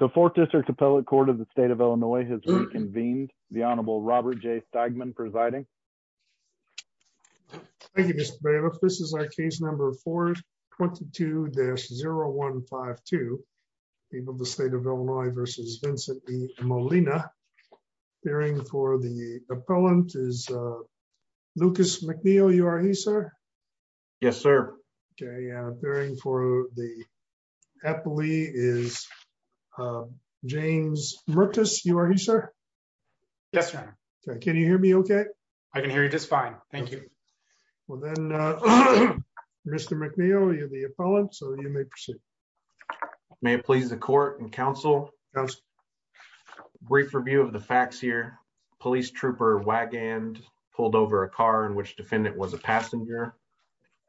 The Fourth District Appellate Court of the State of Illinois has reconvened. The Honorable Robert J. Stegman presiding. Thank you, Mr. Bailiff. This is our case number 422-0152, People of the State of Illinois v. Vincent E. Molina. Appearing for the appellant is Lucas McNeil. You are he, sir? Yes, sir. Appearing for the appellate is James Mertes. You are he, sir? Yes, sir. Can you hear me okay? I can hear you just fine. Thank you. Well then, Mr. McNeil, you're the appellant, so you may proceed. May it please the court and counsel, brief review of the facts here. Police trooper Wagand pulled over a car in which defendant was a passenger.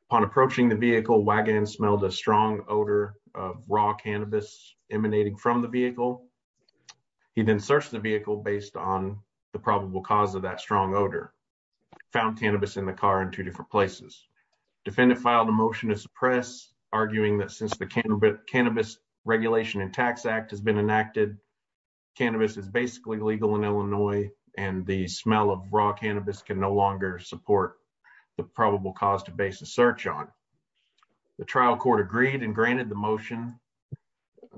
Upon approaching the vehicle, Wagand smelled a strong odor of raw cannabis emanating from the vehicle. He then searched the vehicle based on the probable cause of that strong odor, found cannabis in the car in two different places. Defendant filed a motion to suppress, arguing that since the Cannabis Regulation and Tax Act has been enacted, cannabis is basically legal in Illinois, and the smell of raw cannabis can no longer support the probable cause to base a search on. The trial court agreed and granted the motion,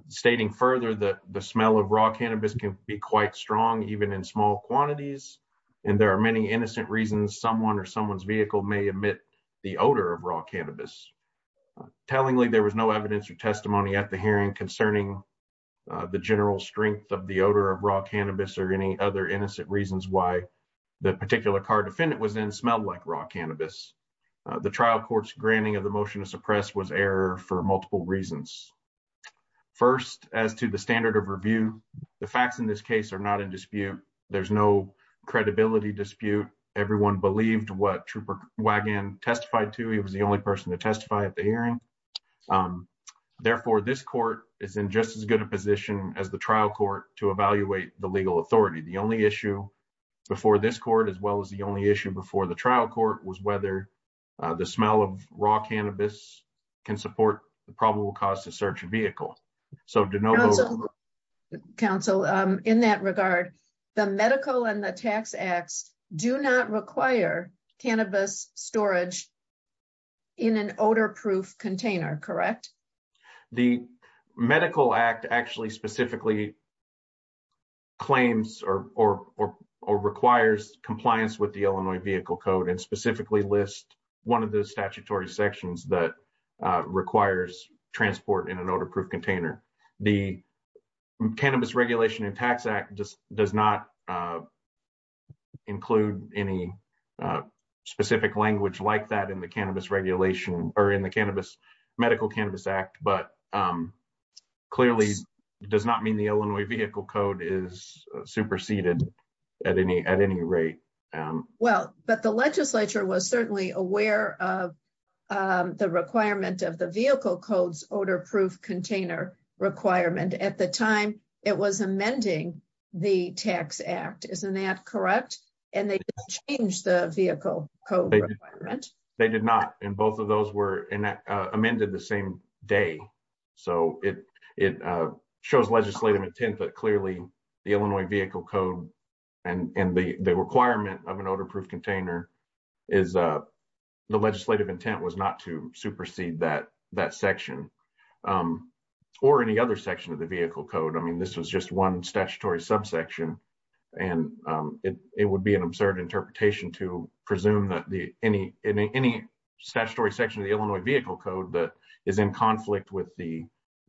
stating further that the smell of raw cannabis can be quite strong, even in small quantities, and there are many innocent reasons someone or someone's vehicle may emit the odor of raw cannabis. Tellingly, there was no evidence or testimony at the hearing concerning the general strength of the odor of raw cannabis or any other reasons why the particular car defendant was in smelled like raw cannabis. The trial court's granting of the motion to suppress was error for multiple reasons. First, as to the standard of review, the facts in this case are not in dispute. There's no credibility dispute. Everyone believed what trooper Wagand testified to. He was the only person to testify at the hearing. Therefore, this court is in just as good a position as the trial court to evaluate the issue before this court as well as the only issue before the trial court was whether the smell of raw cannabis can support the probable cause to search a vehicle. Counsel, in that regard, the medical and the tax acts do not require cannabis storage in an odor-proof container, correct? The medical act actually specifically claims or requires compliance with the Illinois Vehicle Code and specifically lists one of the statutory sections that requires transport in an odor-proof container. The Cannabis Regulation and Tax Act does not include any specific language like that in the cannabis regulation or in the medical cannabis act, but clearly does not mean the Illinois Vehicle Code is superseded at any rate. Well, but the legislature was certainly aware of the requirement of the Vehicle Code's odor-proof container requirement. At the time, it was amending the Tax Act, isn't that correct? And they didn't change the Vehicle Code requirement. They did not and both of those were amended the same day. So, it shows legislative intent, but clearly the Illinois Vehicle Code and the requirement of an odor-proof container is the legislative intent was not to supersede that section or any other section of the Vehicle Code. I mean, this was just one statutory subsection and it would be an absurd interpretation to presume that any statutory section of the Illinois Vehicle Code that is in conflict with the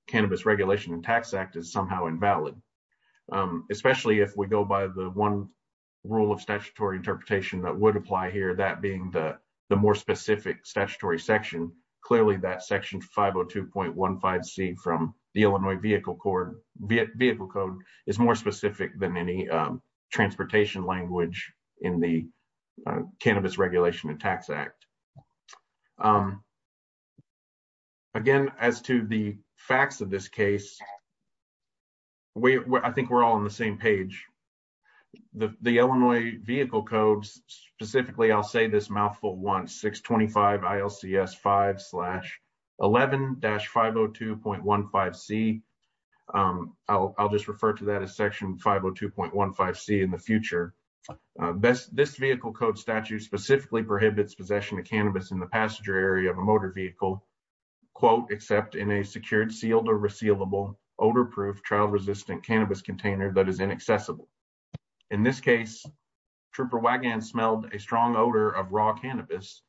Cannabis Regulation and Tax Act is somehow invalid. Especially if we go by the one rule of statutory interpretation that would apply here, that being the more specific statutory section, clearly that section 502.15c from the Illinois Vehicle Code is more specific than any transportation language in the Cannabis Regulation and Tax Act. Again, as to the facts of this case, I think we're all on the same page. The Illinois Vehicle Code specifically, I'll say this mouthful once, 625 ILCS 5-11-502.15c. I'll just refer to that as section 502.15c in the future. This Vehicle Code statute specifically prohibits possession of cannabis in the passenger area of a motor vehicle, quote, except in a secured, sealed, or resealable odor-proof, child-resistant cannabis container that is inaccessible. In this case, Trooper Wagan smelled a strong odor of raw cannabis.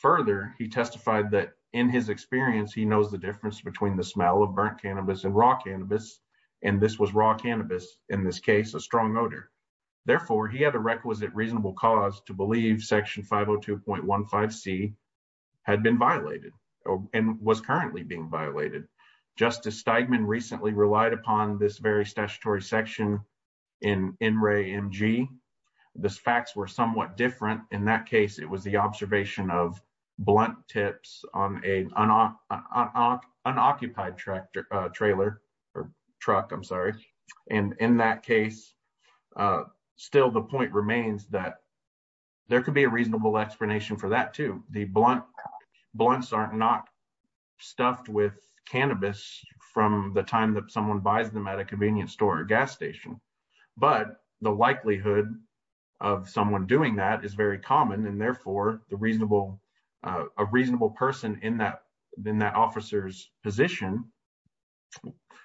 Further, he testified that in his experience, he knows the difference between the smell of burnt cannabis and raw cannabis, and this was raw cannabis, in this case, a strong odor. Therefore, he had a requisite reasonable cause to believe section 502.15c had been violated and was currently being violated. Justice Steigman recently relied upon this very statutory section in NREA-MG. The facts were somewhat different. In that case, it was the observation of blunt tips on an unoccupied truck, and in that case, still the point remains that there could be a reasonable explanation for that too. The blunts are not stuffed with cannabis from the time that someone buys them at a convenience store or gas station, but the likelihood of someone doing that is very common. Therefore, a reasonable person in that officer's position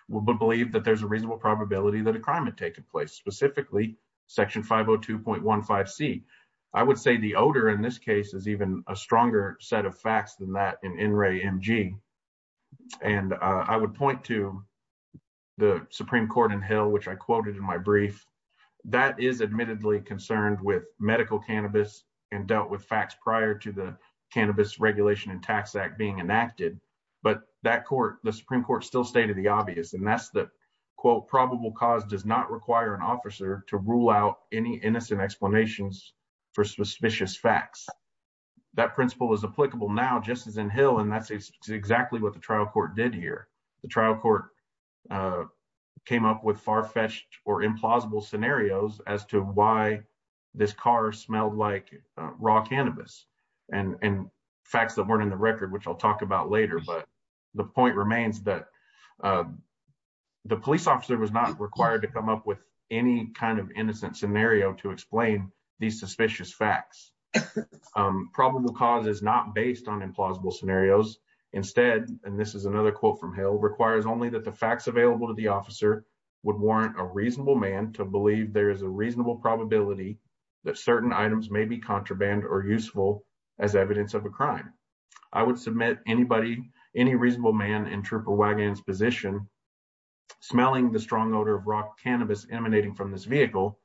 would believe that there's a reasonable probability that a crime had taken place, specifically section 502.15c. I would say the odor in this case is even a stronger set of facts than that in NREA-MG. I would point to the Supreme Court which I quoted in my brief. That is admittedly concerned with medical cannabis and dealt with facts prior to the Cannabis Regulation and Tax Act being enacted, but the Supreme Court still stated the obvious, and that's that probable cause does not require an officer to rule out any innocent explanations for suspicious facts. That principle is applicable now just as in Hill, and that's exactly what the trial court did here. The trial court came up with far-fetched or implausible scenarios as to why this car smelled like raw cannabis and facts that weren't in the record, which I'll talk about later, but the point remains that the police officer was not required to come up with any kind of innocent scenario to explain these suspicious facts. Probable cause is not based on implausible scenarios. Instead, and this is another quote from Hill, requires only that the facts available to the officer would warrant a reasonable man to believe there is a reasonable probability that certain items may be contraband or useful as evidence of a crime. I would submit anybody, any reasonable man in Trooper Wagon's position smelling the strong odor of raw cannabis emanating from this vehicle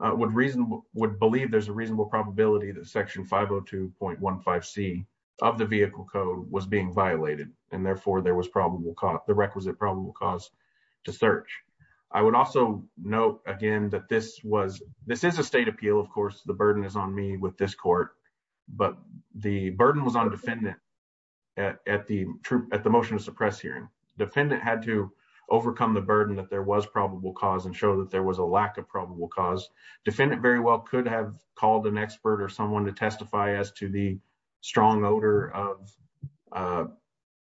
would reason would believe there's a reasonable probability that section 502.15c of the vehicle code was being violated, and therefore there was the requisite probable cause to search. I would also note again that this is a state appeal. Of course, the burden is on me with this court, but the burden was on defendant at the motion to suppress hearing. Defendant had to overcome the burden that there was probable cause and show that there was a lack of probable cause. Defendant very well could have called an expert or someone to testify as to the strong odor of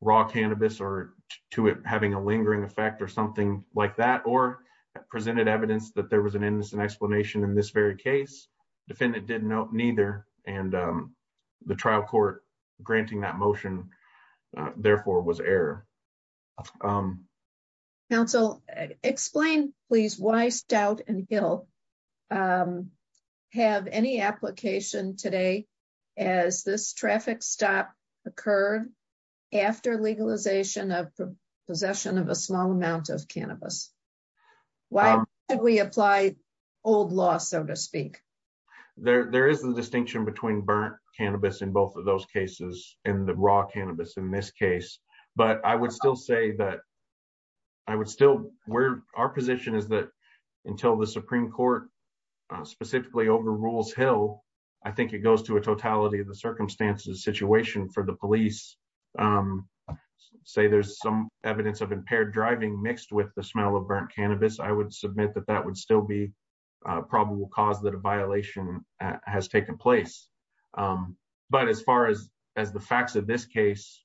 raw cannabis or to it having a lingering effect or something like that, or presented evidence that there was an innocent explanation in this very case. Defendant didn't know neither, and the trial court granting that application today as this traffic stop occurred after legalization of possession of a small amount of cannabis. Why did we apply old law, so to speak? There is a distinction between burnt cannabis in both of those cases and the raw cannabis in this case, but I would still say that I would still... Our position is that until the Supreme Court specifically overrules Hill, I think it goes to a totality of the circumstances situation for the police. Say there's some evidence of impaired driving mixed with the smell of burnt cannabis, I would submit that that would still be probable cause that a violation has taken place. But as far as the facts of this case,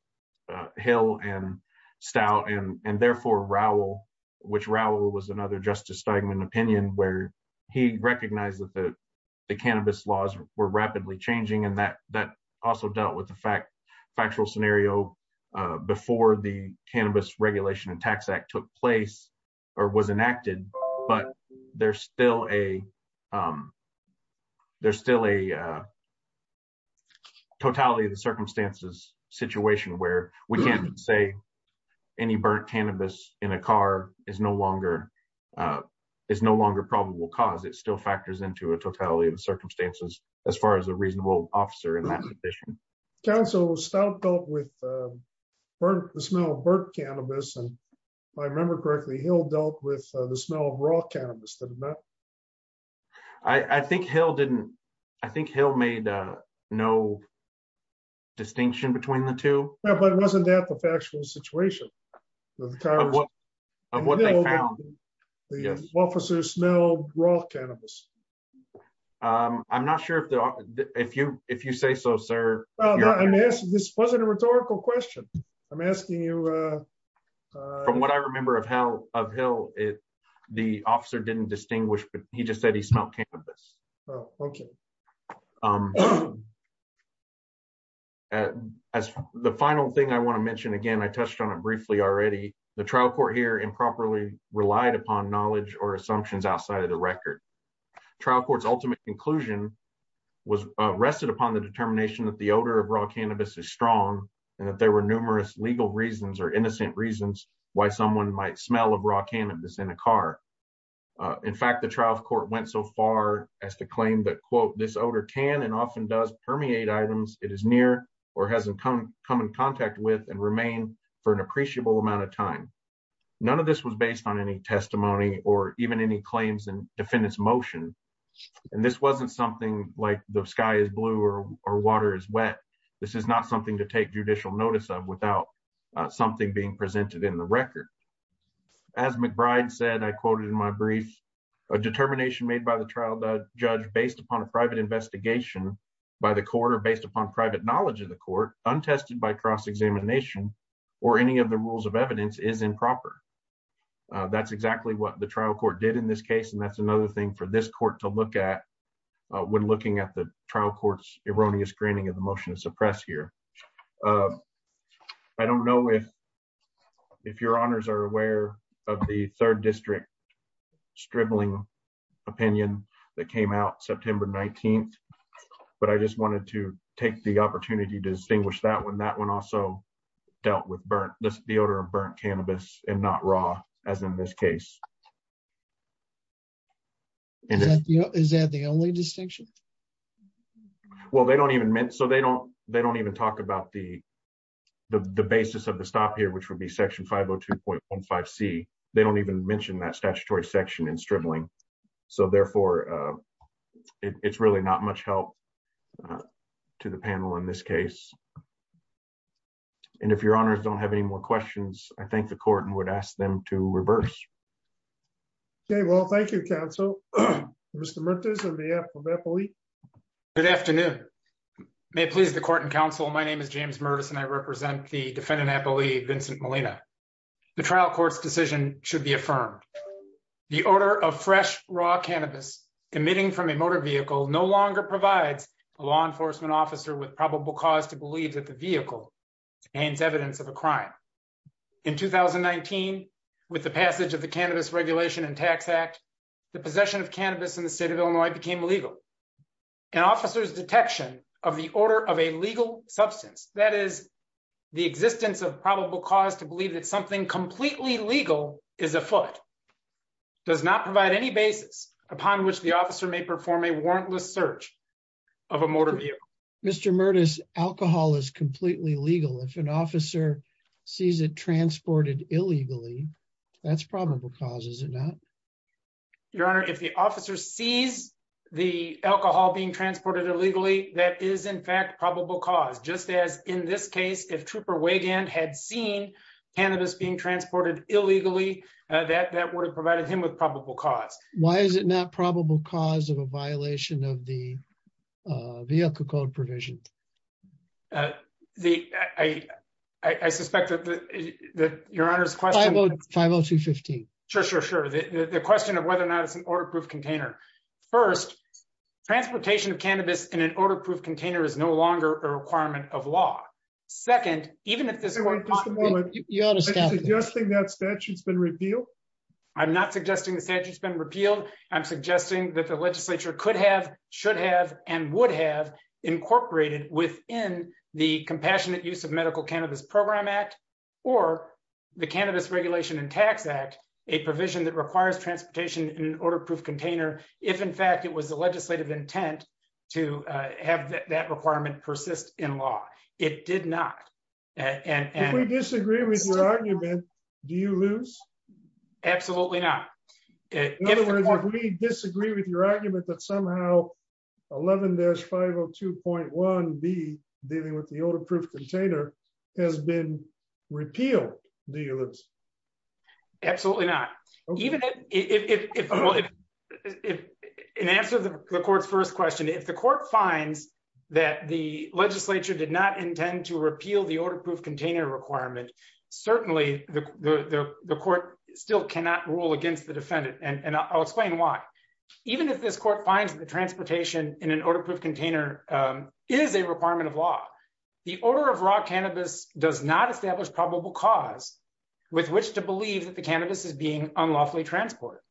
Hill and Stout, and therefore Rowell, which Rowell was another Justice Steigman opinion where he recognized that the cannabis laws were rapidly changing, and that also dealt with the factual scenario before the Cannabis Regulation and Tax Act took place or was enacted, but there's still a totality of the circumstances situation where we can't say any burnt cannabis in a car is no longer probable cause. It still factors into a totality of the circumstances as far as a reasonable officer in that position. Counsel, Stout dealt with the smell of burnt cannabis, and if I remember correctly, Hill dealt with the smell of raw cannabis, didn't it? I think Hill made no distinction between the two. But wasn't that the factual situation of what they found? The officers smelled raw cannabis. I'm not sure if you say so, sir. No, this wasn't a rhetorical question. I'm asking you... From what I remember of Hill, the officer didn't distinguish, but he just said he smelled cannabis. Oh, thank you. As the final thing I want to mention, again, I touched on it briefly already, the trial court here improperly relied upon knowledge or assumptions outside of the record. Trial court's ultimate conclusion was rested upon the determination that the odor of raw cannabis is strong and that there were numerous legal reasons or innocent reasons why someone might smell of raw cannabis in a car. In fact, the trial court went so far as to claim that, quote, this odor can and often does permeate items it is near or hasn't come in contact with and remain for an appreciable amount of time. None of this was based on any testimony or even any claims in defendant's motion. And this wasn't something like the sky is blue or water is wet. This is not something to take judicial notice of without something being presented in the record. As McBride said, I quoted in my brief, a determination made by the trial judge based upon a private investigation by the court or based upon private knowledge of the court, untested by cross-examination or any of the rules of evidence is improper. That's exactly what the trial court did in this case. And that's another thing for this court to look at when looking at the trial court's erroneous screening of the motion to suppress here. I don't know if your honors are aware of the third district stribbling opinion that came out September 19th, but I just wanted to take the opportunity to as in this case. Is that the only distinction? Well, they don't even talk about the basis of the stop here, which would be section 502.15c. They don't even mention that statutory section in stribbling. So therefore, it's really not much help to the panel in this case. And if your honors don't have any more questions, I think the court would ask them to reverse. Okay. Well, thank you, counsel. Mr. Mertes and the NAPOE. Good afternoon. May it please the court and counsel. My name is James Mertes and I represent the defendant NAPOE, Vincent Molina. The trial court's decision should be affirmed. The order of fresh raw cannabis emitting from a motor vehicle no longer provides a law enforcement officer with probable cause to believe that the vehicle and evidence of a crime. In 2019, with the passage of the Cannabis Regulation and Tax Act, the possession of cannabis in the state of Illinois became illegal. An officer's detection of the order of a legal substance, that is, the existence of probable cause to believe that something completely legal is afoot, does not provide any basis upon which the officer may perform a warrantless search of a motor vehicle. Mr. Mertes, alcohol is completely legal. If an officer sees it transported illegally, that's probable cause, is it not? Your honor, if the officer sees the alcohol being transported illegally, that is in fact probable cause. Just as in this case, if Trooper Wigand had seen cannabis being transported illegally, that would have provided him with probable cause. Why is it not probable cause of a violation of the vehicle code provision? I suspect that your honor's question... 50215. Sure, sure, sure. The question of whether or not it's an order-proof container. First, transportation of cannabis in an order-proof container is no longer a requirement of law. Second, even if this... Just a moment. I'm not suggesting the statute's been repealed. I'm not suggesting the statute's been repealed. I'm suggesting that the legislature could have, should have, and would have incorporated within the Compassionate Use of Medical Cannabis Program Act or the Cannabis Regulation and Tax Act, a provision that requires transportation in an order-proof container, if in fact it was the legislative intent to have that requirement persist in law. It did not. If we disagree with your argument, do you lose? Absolutely not. In other words, if we disagree with your argument that somehow 11-502.1B, dealing with the order-proof container, has been repealed, do you lose? Absolutely not. In answer to the court's first question, if the court finds that the legislature did not intend to repeal the order-proof container requirement, certainly the court still cannot rule against the defendant, and I'll explain why. Even if this court finds that the transportation in an order-proof container is a requirement of law, the order of raw cannabis does not establish probable cause with which to believe that the cannabis is being unlawfully transported.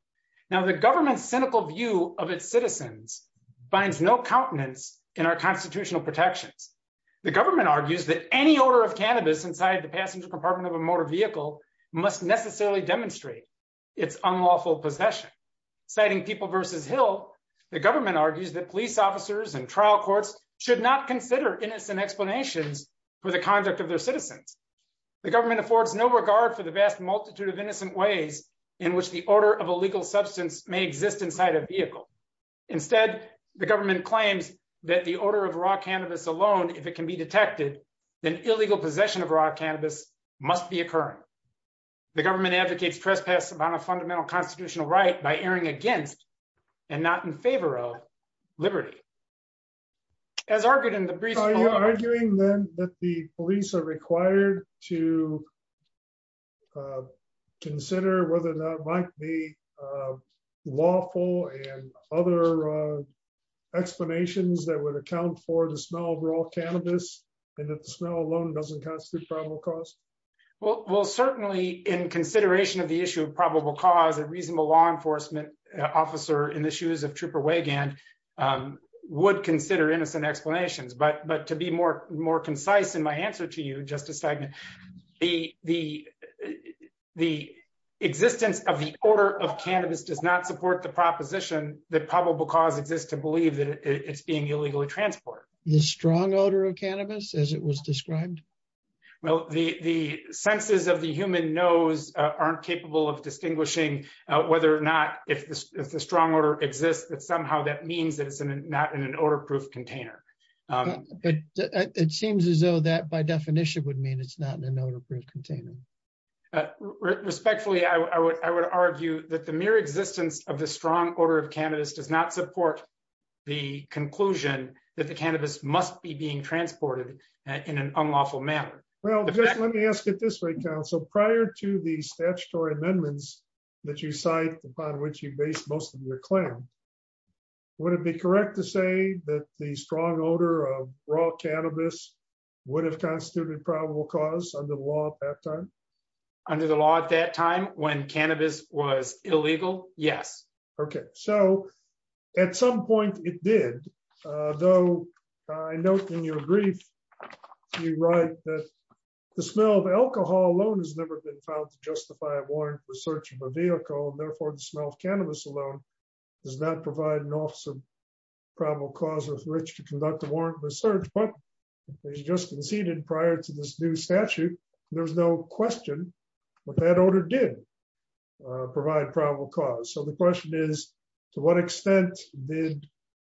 Now, the government's cynical view of its citizens binds no countenance in our constitutional protections. The government argues that any a motor vehicle must necessarily demonstrate its unlawful possession. Citing People v. Hill, the government argues that police officers and trial courts should not consider innocent explanations for the conduct of their citizens. The government affords no regard for the vast multitude of innocent ways in which the order of a legal substance may exist inside a vehicle. Instead, the government claims that the order of raw cannabis alone, if it can be detected, then illegal possession of raw cannabis must be occurring. The government advocates trespass upon a fundamental constitutional right by erring against, and not in favor of, liberty. As argued in the brief- So are you arguing then that the police are required to consider whether or not it might be lawful and other explanations that would account for the smell alone doesn't constitute probable cause? Well, certainly in consideration of the issue of probable cause, a reasonable law enforcement officer in the shoes of Trooper Wagan would consider innocent explanations. But to be more concise in my answer to you, Justice Steigman, the existence of the order of cannabis does not support the proposition that probable cause exists to believe that it's being illegally transported. The strong odor of cannabis, as it was described? Well, the senses of the human nose aren't capable of distinguishing whether or not, if the strong odor exists, that somehow that means that it's not in an odor-proof container. But it seems as though that by definition would mean it's not in an odor-proof container. Respectfully, I would argue that the mere existence of the strong odor of cannabis does not support the conclusion that the cannabis must be being transported in an unlawful manner. Well, just let me ask it this way, counsel. Prior to the statutory amendments that you cite upon which you base most of your claim, would it be correct to say that the strong odor of raw cannabis would have constituted probable cause under the law at that time? Under the law at that time when cannabis was illegal? Yes. Okay, so at some point it did. Though I note in your brief, you write that the smell of alcohol alone has never been found to justify a warrant for search of a vehicle, and therefore the smell of cannabis alone does not provide an officer probable cause with which to conduct a warrant for search. But as you just conceded prior to this new statute, there's no question that that order did provide probable cause. So the question is, to what extent did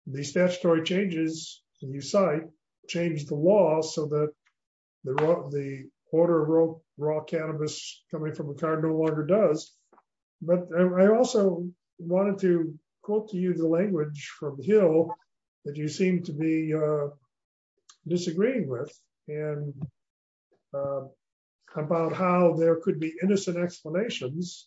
the statutory changes that you cite change the law so that the order of raw cannabis coming from a car no longer does? But I also wanted to quote to you the language from Hill that you seem to be disagreeing with, and about how there could be innocent explanations.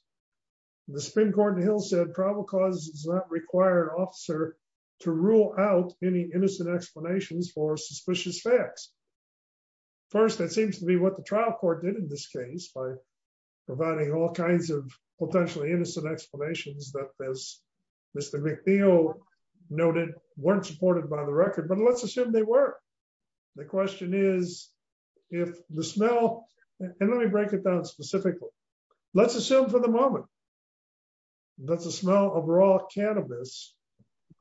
The spin court in Hill said probable cause does not require an officer to rule out any innocent explanations for suspicious facts. First, that seems to be what the trial court did in this case by providing all kinds of potentially innocent explanations that, as Mr. McNeil noted, weren't supported by the record, but let's assume they were. The question is, if the smell, and let me break it down specifically, let's assume for the moment that the smell of raw cannabis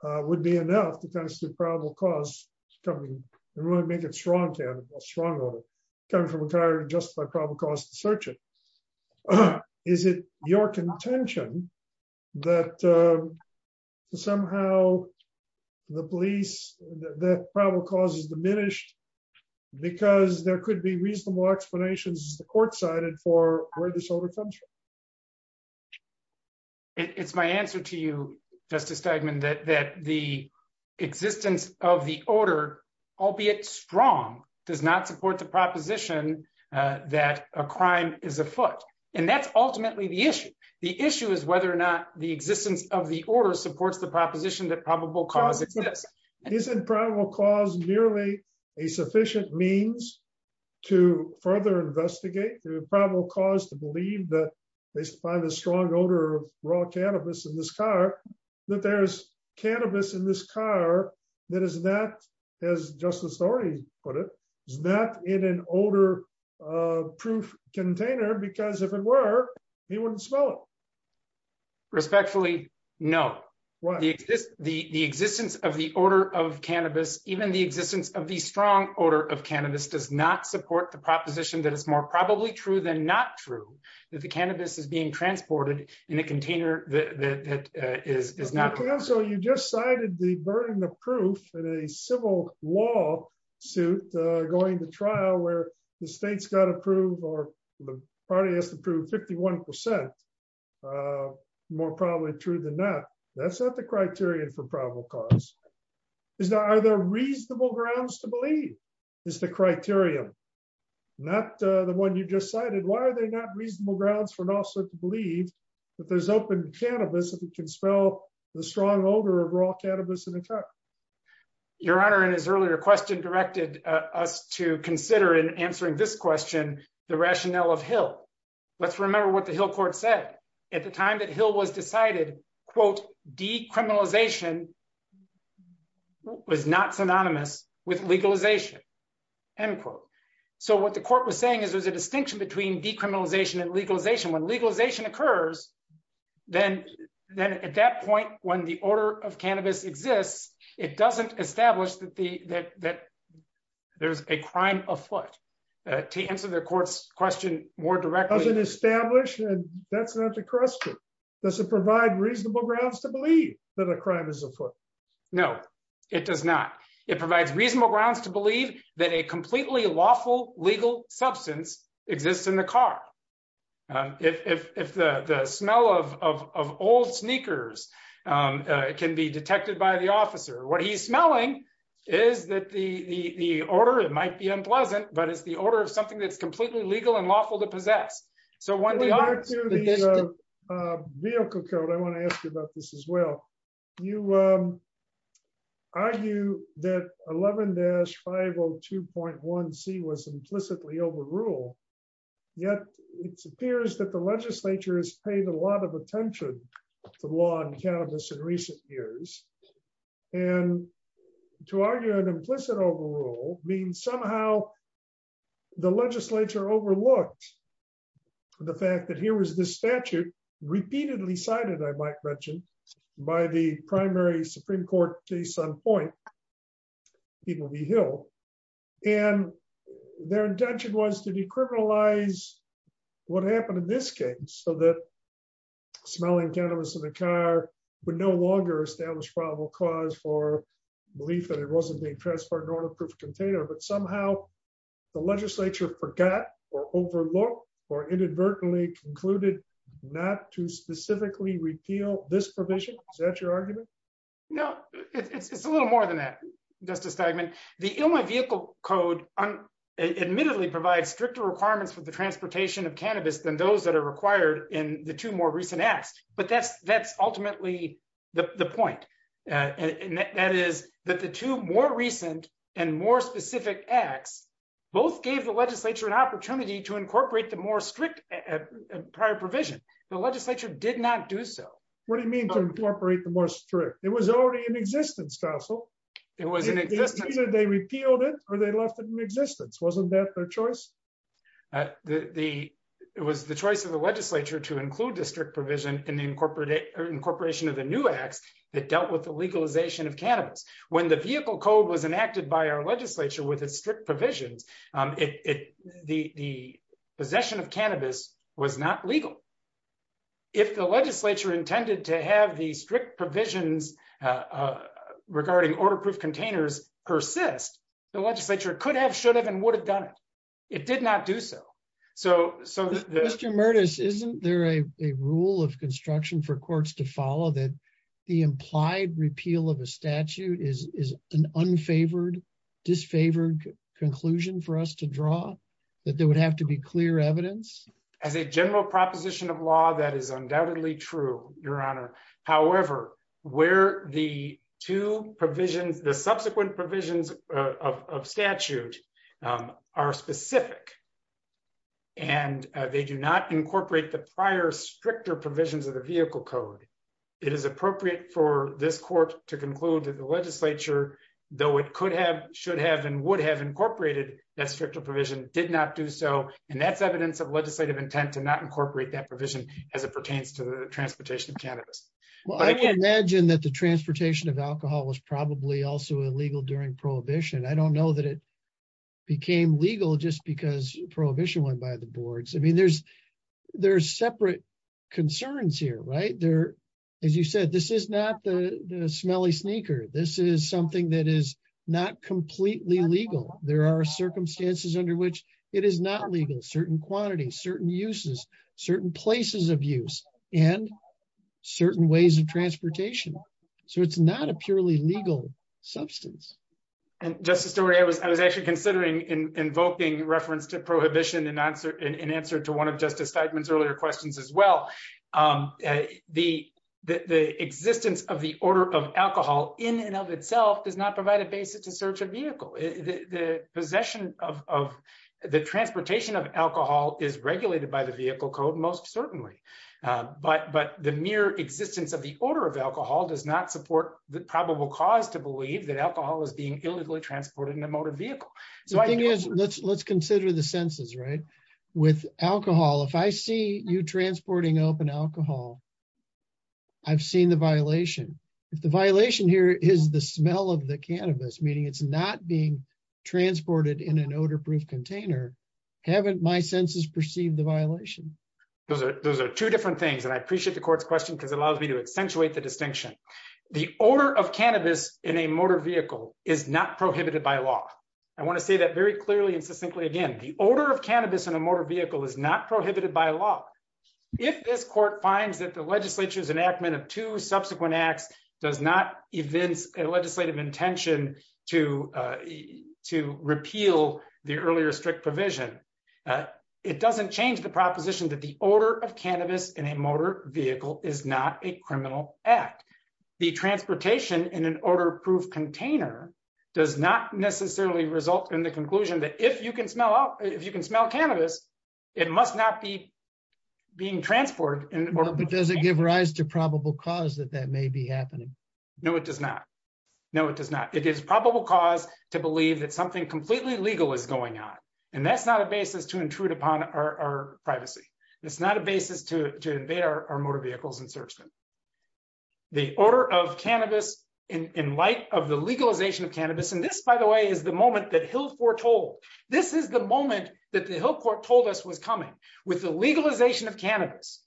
would be enough to constitute probable cause coming from a car to justify probable cause to search it. Is it your contention that somehow the police, the probable cause is diminished because there could be reasonable explanations the court cited for where this order comes from? It's my answer to you, Justice Steigman, that the existence of the order, albeit strong, does not support the proposition that a crime is afoot. And that's ultimately the issue. The issue is whether or not the existence of the order supports the proposition that probable cause exists. Isn't probable cause merely a sufficient means to further investigate, to probable cause to believe that they find a strong odor of raw cannabis in this car, that there's cannabis in this car that is not, as Justice Thornton put it, is not in an odor-proof container because if it were, he wouldn't smell it. Respectfully, no. The existence of the order of cannabis, even the existence of the strong odor of cannabis, does not support the proposition that it's more probably true than not true that the cannabis is being transported in a container that is not. So you just cited the burden of proof in a civil law suit going to trial where the state's got to prove or the party has to prove 51 percent more probably true than not. That's not the criterion for probable cause. Are there reasonable grounds to believe is the criterion, not the one you just cited? Why are there not reasonable grounds for an officer to believe that there's open cannabis if it can smell the strong odor of raw cannabis in a car? Your Honor, in his earlier question, directed us to consider in answering this question the rationale of Hill. Let's remember what the Hill court said. At the time that Hill was decided, quote, decriminalization was not synonymous with legalization, end quote. So what the court was saying is there's a distinction between decriminalization and legalization. When it doesn't establish that there's a crime afoot, to answer the court's question more directly. Doesn't establish? That's not the question. Does it provide reasonable grounds to believe that a crime is afoot? No, it does not. It provides reasonable grounds to believe that a completely lawful legal substance exists in the car. If the smell of old sneakers can be detected by the officer, what he's smelling is that the odor, it might be unpleasant, but it's the odor of something that's completely legal and lawful to possess. Vehicle code, I want to ask you about this as well. You argue that 11-502.1c was implicitly in recent years. And to argue an implicit overrule means somehow the legislature overlooked the fact that here was this statute repeatedly cited, I might mention, by the primary Supreme Court case on point, Peabody Hill. And their intention was to no longer establish probable cause for belief that it wasn't being transported on a proof container, but somehow the legislature forgot or overlooked or inadvertently concluded not to specifically repeal this provision. Is that your argument? No, it's a little more than that, Justice Steigman. The Illinois Vehicle Code admittedly provides stricter requirements for the transportation of cannabis than those that are required in the two more recent acts. But that's ultimately the point. And that is that the two more recent and more specific acts both gave the legislature an opportunity to incorporate the more strict prior provision. The legislature did not do so. What do you mean to incorporate the more strict? It was already in existence, Counsel. It was in existence. Either they repealed it or they left it in existence. Wasn't that their choice? It was the choice of the legislature to include the strict provision in the incorporation of the new acts that dealt with the legalization of cannabis. When the Vehicle Code was enacted by our legislature with its strict provisions, the possession of cannabis was not legal. If the legislature intended to have the strict provisions regarding order proof containers persist, the legislature could have, should have, would have done it. It did not do so. Mr. Murtis, isn't there a rule of construction for courts to follow that the implied repeal of a statute is an unfavored, disfavored conclusion for us to draw, that there would have to be clear evidence? As a general proposition of law, that is undoubtedly true, Your Honor. However, where two provisions, the subsequent provisions of statute are specific and they do not incorporate the prior stricter provisions of the Vehicle Code, it is appropriate for this court to conclude that the legislature, though it could have, should have, and would have incorporated that stricter provision, did not do so. And that's evidence of legislative intent to not incorporate that provision as it pertains to the transportation of cannabis. Well, I can imagine that the transportation of alcohol was probably also illegal during prohibition. I don't know that it became legal just because prohibition went by the boards. I mean, there's separate concerns here, right? There, as you said, this is not the smelly sneaker. This is something that is not completely legal. There are circumstances under which it is not legal, certain quantities, certain uses, certain places of use, and certain ways of transportation. So it's not a purely legal substance. And Justice Doria, I was actually considering invoking reference to prohibition in answer to one of Justice Feigman's earlier questions as well. The existence of the order of alcohol in and of itself does not provide a basis to search a vehicle. The possession of, the transportation of alcohol is regulated by the vehicle code, most certainly. But the mere existence of the order of alcohol does not support the probable cause to believe that alcohol is being illegally transported in a motor vehicle. The thing is, let's consider the census, right? With alcohol, if I see you transporting open alcohol, I've seen the violation. If the violation here is the smell of the cannabis, meaning it's not being transported in an odor-proof container, haven't my census perceived the violation? Those are two different things. And I appreciate the court's question because it allows me to accentuate the distinction. The order of cannabis in a motor vehicle is not prohibited by law. I want to say that very clearly and succinctly again. The order of cannabis in a motor vehicle is not prohibited by law. If this court finds that the legislature's enactment of two subsequent acts does not evince a legislative intention to repeal the earlier strict provision, it doesn't change the proposition that the order of cannabis in a motor vehicle is not a criminal act. The transportation in an odor-proof container does not necessarily result in the conclusion that if you can smell cannabis, it must not be being transported. But does it give rise to probable cause that that may be happening? No, it does not. No, it does not. It is probable cause to believe that something completely legal is going on. And that's not a basis to intrude upon our privacy. It's not a basis to invade our motor vehicles and search them. The order of cannabis in light of the legalization of cannabis, and this, by the way, is the moment that Hill foretold. This is the moment that the Hill court told us was coming. With the legalization of cannabis,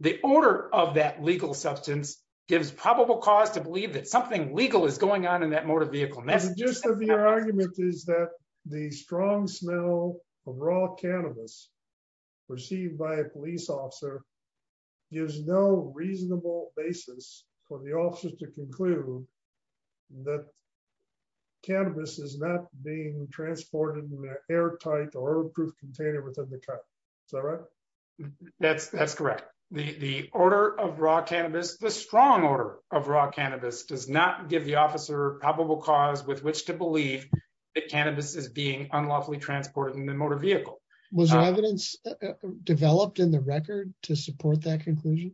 the order of that legal substance gives probable cause to believe that something legal is going on in that motor vehicle. And that's just- The gist of your argument is that the strong smell of raw cannabis received by a police officer gives no reasonable basis for the officers to conclude that cannabis is not being transported in an airtight or proof container within the car. Is that right? That's correct. The order of raw cannabis, the strong order of raw cannabis does not give the officer probable cause with which to believe that cannabis is being unlawfully transported in the motor vehicle. Was there evidence developed in the record to support that conclusion?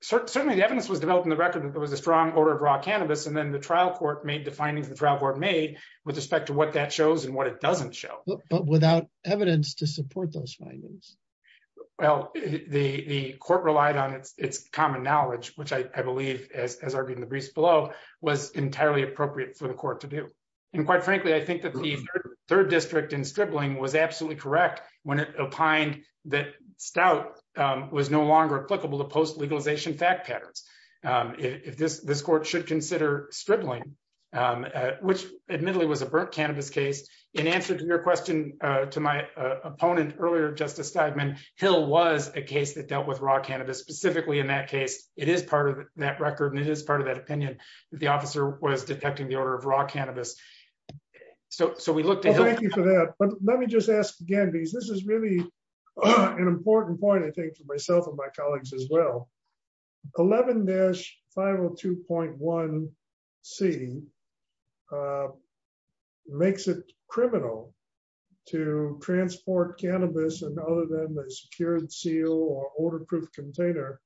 Certainly the evidence was developed in the record that there was a strong order of raw cannabis. The court made the findings that the trial court made with respect to what that shows and what it doesn't show. But without evidence to support those findings? Well, the court relied on its common knowledge, which I believe, as argued in the briefs below, was entirely appropriate for the court to do. And quite frankly, I think that the third district in Stripling was absolutely correct when it opined that stout was no longer applicable to post-legalization fact patterns. This court should consider Stripling, which admittedly was a burnt cannabis case. In answer to your question to my opponent earlier, Justice Stideman, Hill was a case that dealt with raw cannabis specifically in that case. It is part of that record and it is part of that opinion that the officer was detecting the order of raw cannabis. So we looked at- Thank you for that. But let me just ask again, because this is really an important point, I think, for myself and my colleagues as well. 11-502.1c makes it criminal to transport cannabis and other than the secured seal or order-proof container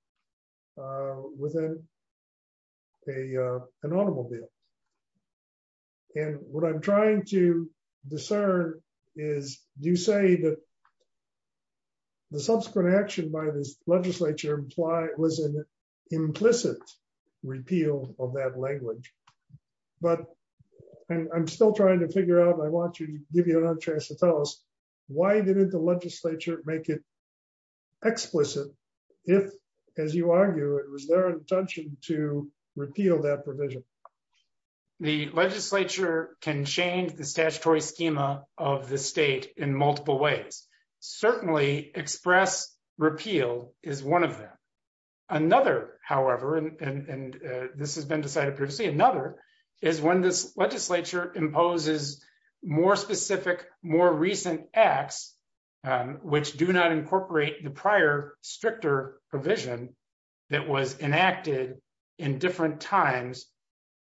within an automobile. And what I'm trying to discern is, do you say that the subsequent action by this legislature was an implicit repeal of that language? But I'm still trying to figure out, I want to give you another chance to tell us, why didn't the legislature make it explicit if, as you argue, it was their intention to repeal that provision? The legislature can change the statutory schema of the state in multiple ways. Certainly, express repeal is one of them. Another, however, and this has been decided previously, another is when this legislature imposes more specific, more recent acts, which do not incorporate the prior stricter provision that was enacted in different times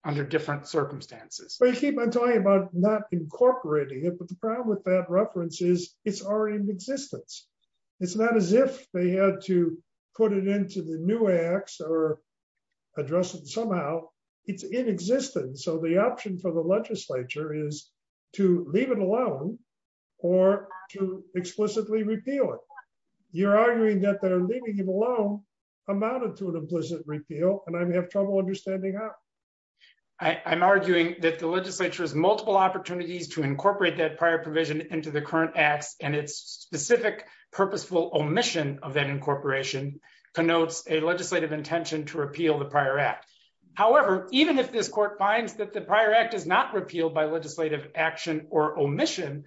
under different circumstances. Well, you keep on talking about not incorporating it, but the problem with that reference is, it's already in existence. It's not as if they had to put it into the new acts or address it somehow. It's in existence. So the option for the legislature is to leave it alone or to explicitly repeal it. You're arguing that their leaving it alone amounted to an implicit repeal, and I have trouble understanding how. I'm arguing that the legislature has multiple opportunities to incorporate that prior provision into the current acts and its specific purposeful omission of that incorporation connotes a legislative intention to repeal the prior act. However, even if this court finds that the prior act is not repealed by legislative action or omission,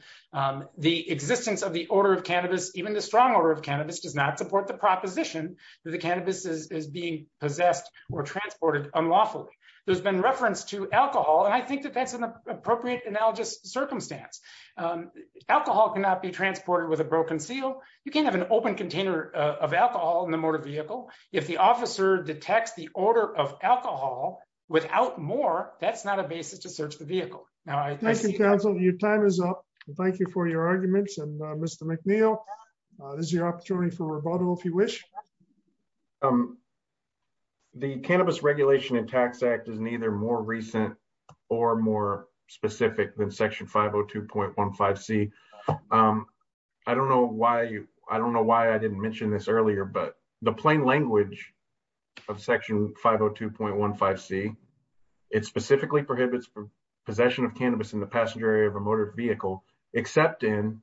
the existence of the order of cannabis, even the strong order of cannabis, does not support the proposition that the cannabis is being possessed or transported unlawfully. There's been reference to alcohol, and I think that that's an appropriate analogous circumstance. Alcohol cannot be transported with a broken seal. You can't have an open container of alcohol in the motor vehicle. If the officer detects the order of alcohol without more, that's not a basis to search the vehicle. Thank you, counsel. Your time is up. Thank you for your arguments, and Mr. McNeil, this is your opportunity for rebuttal if you wish. The Cannabis Regulation and Tax Act is neither more recent or more specific than section 502.15c. I don't know why I didn't mention this earlier, but the plain language of section 502.15c, it specifically prohibits possession of cannabis in the passenger area of a motor vehicle except in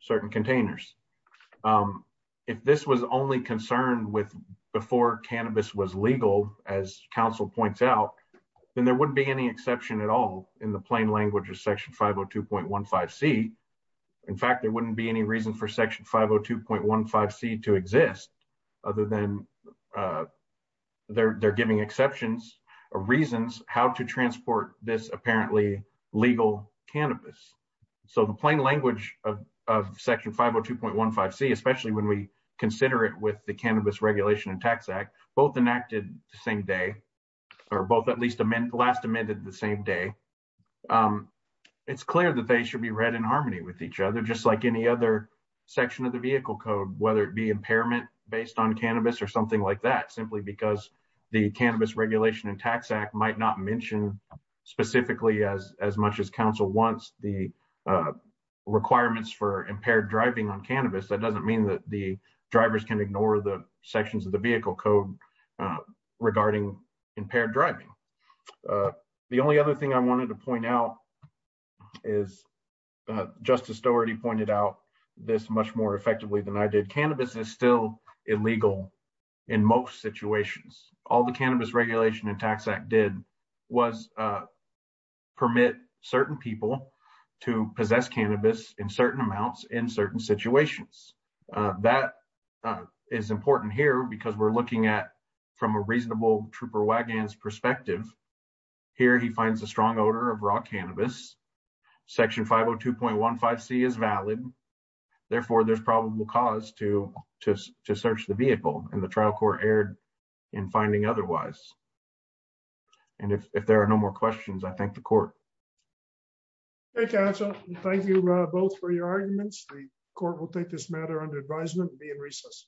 certain containers. If this was only concerned with before cannabis was legal, as counsel points out, then there wouldn't be any exception at all in the plain language. In fact, there wouldn't be any reason for section 502.15c to exist other than they're giving exceptions or reasons how to transport this apparently legal cannabis. So the plain language of section 502.15c, especially when we consider it with the Cannabis Regulation and Tax Act, both enacted the same day or both at least last amended the same day, it's clear that they should be read in harmony with each other, just like any other section of the vehicle code, whether it be impairment based on cannabis or something like that, simply because the Cannabis Regulation and Tax Act might not mention specifically as much as counsel wants the requirements for impaired driving on cannabis. That doesn't mean that the drivers can ignore the sections of the vehicle code regarding impaired driving. The only other thing I wanted to point out is, Justice Stowe already pointed out this much more effectively than I did, cannabis is still illegal in most situations. All the Cannabis Regulation and Tax Act did was permit certain people to possess cannabis in certain amounts in certain situations. That is important here because we're looking at from a reasonable trooper wagons perspective. Here he finds a strong odor of raw cannabis. Section 502.15c is valid. Therefore, there's probable cause to search the vehicle and the trial court erred in finding otherwise. And if there are no more questions, I thank the court. Okay, counsel. Thank you both for your arguments. The court will take this matter under advisement and be in recess.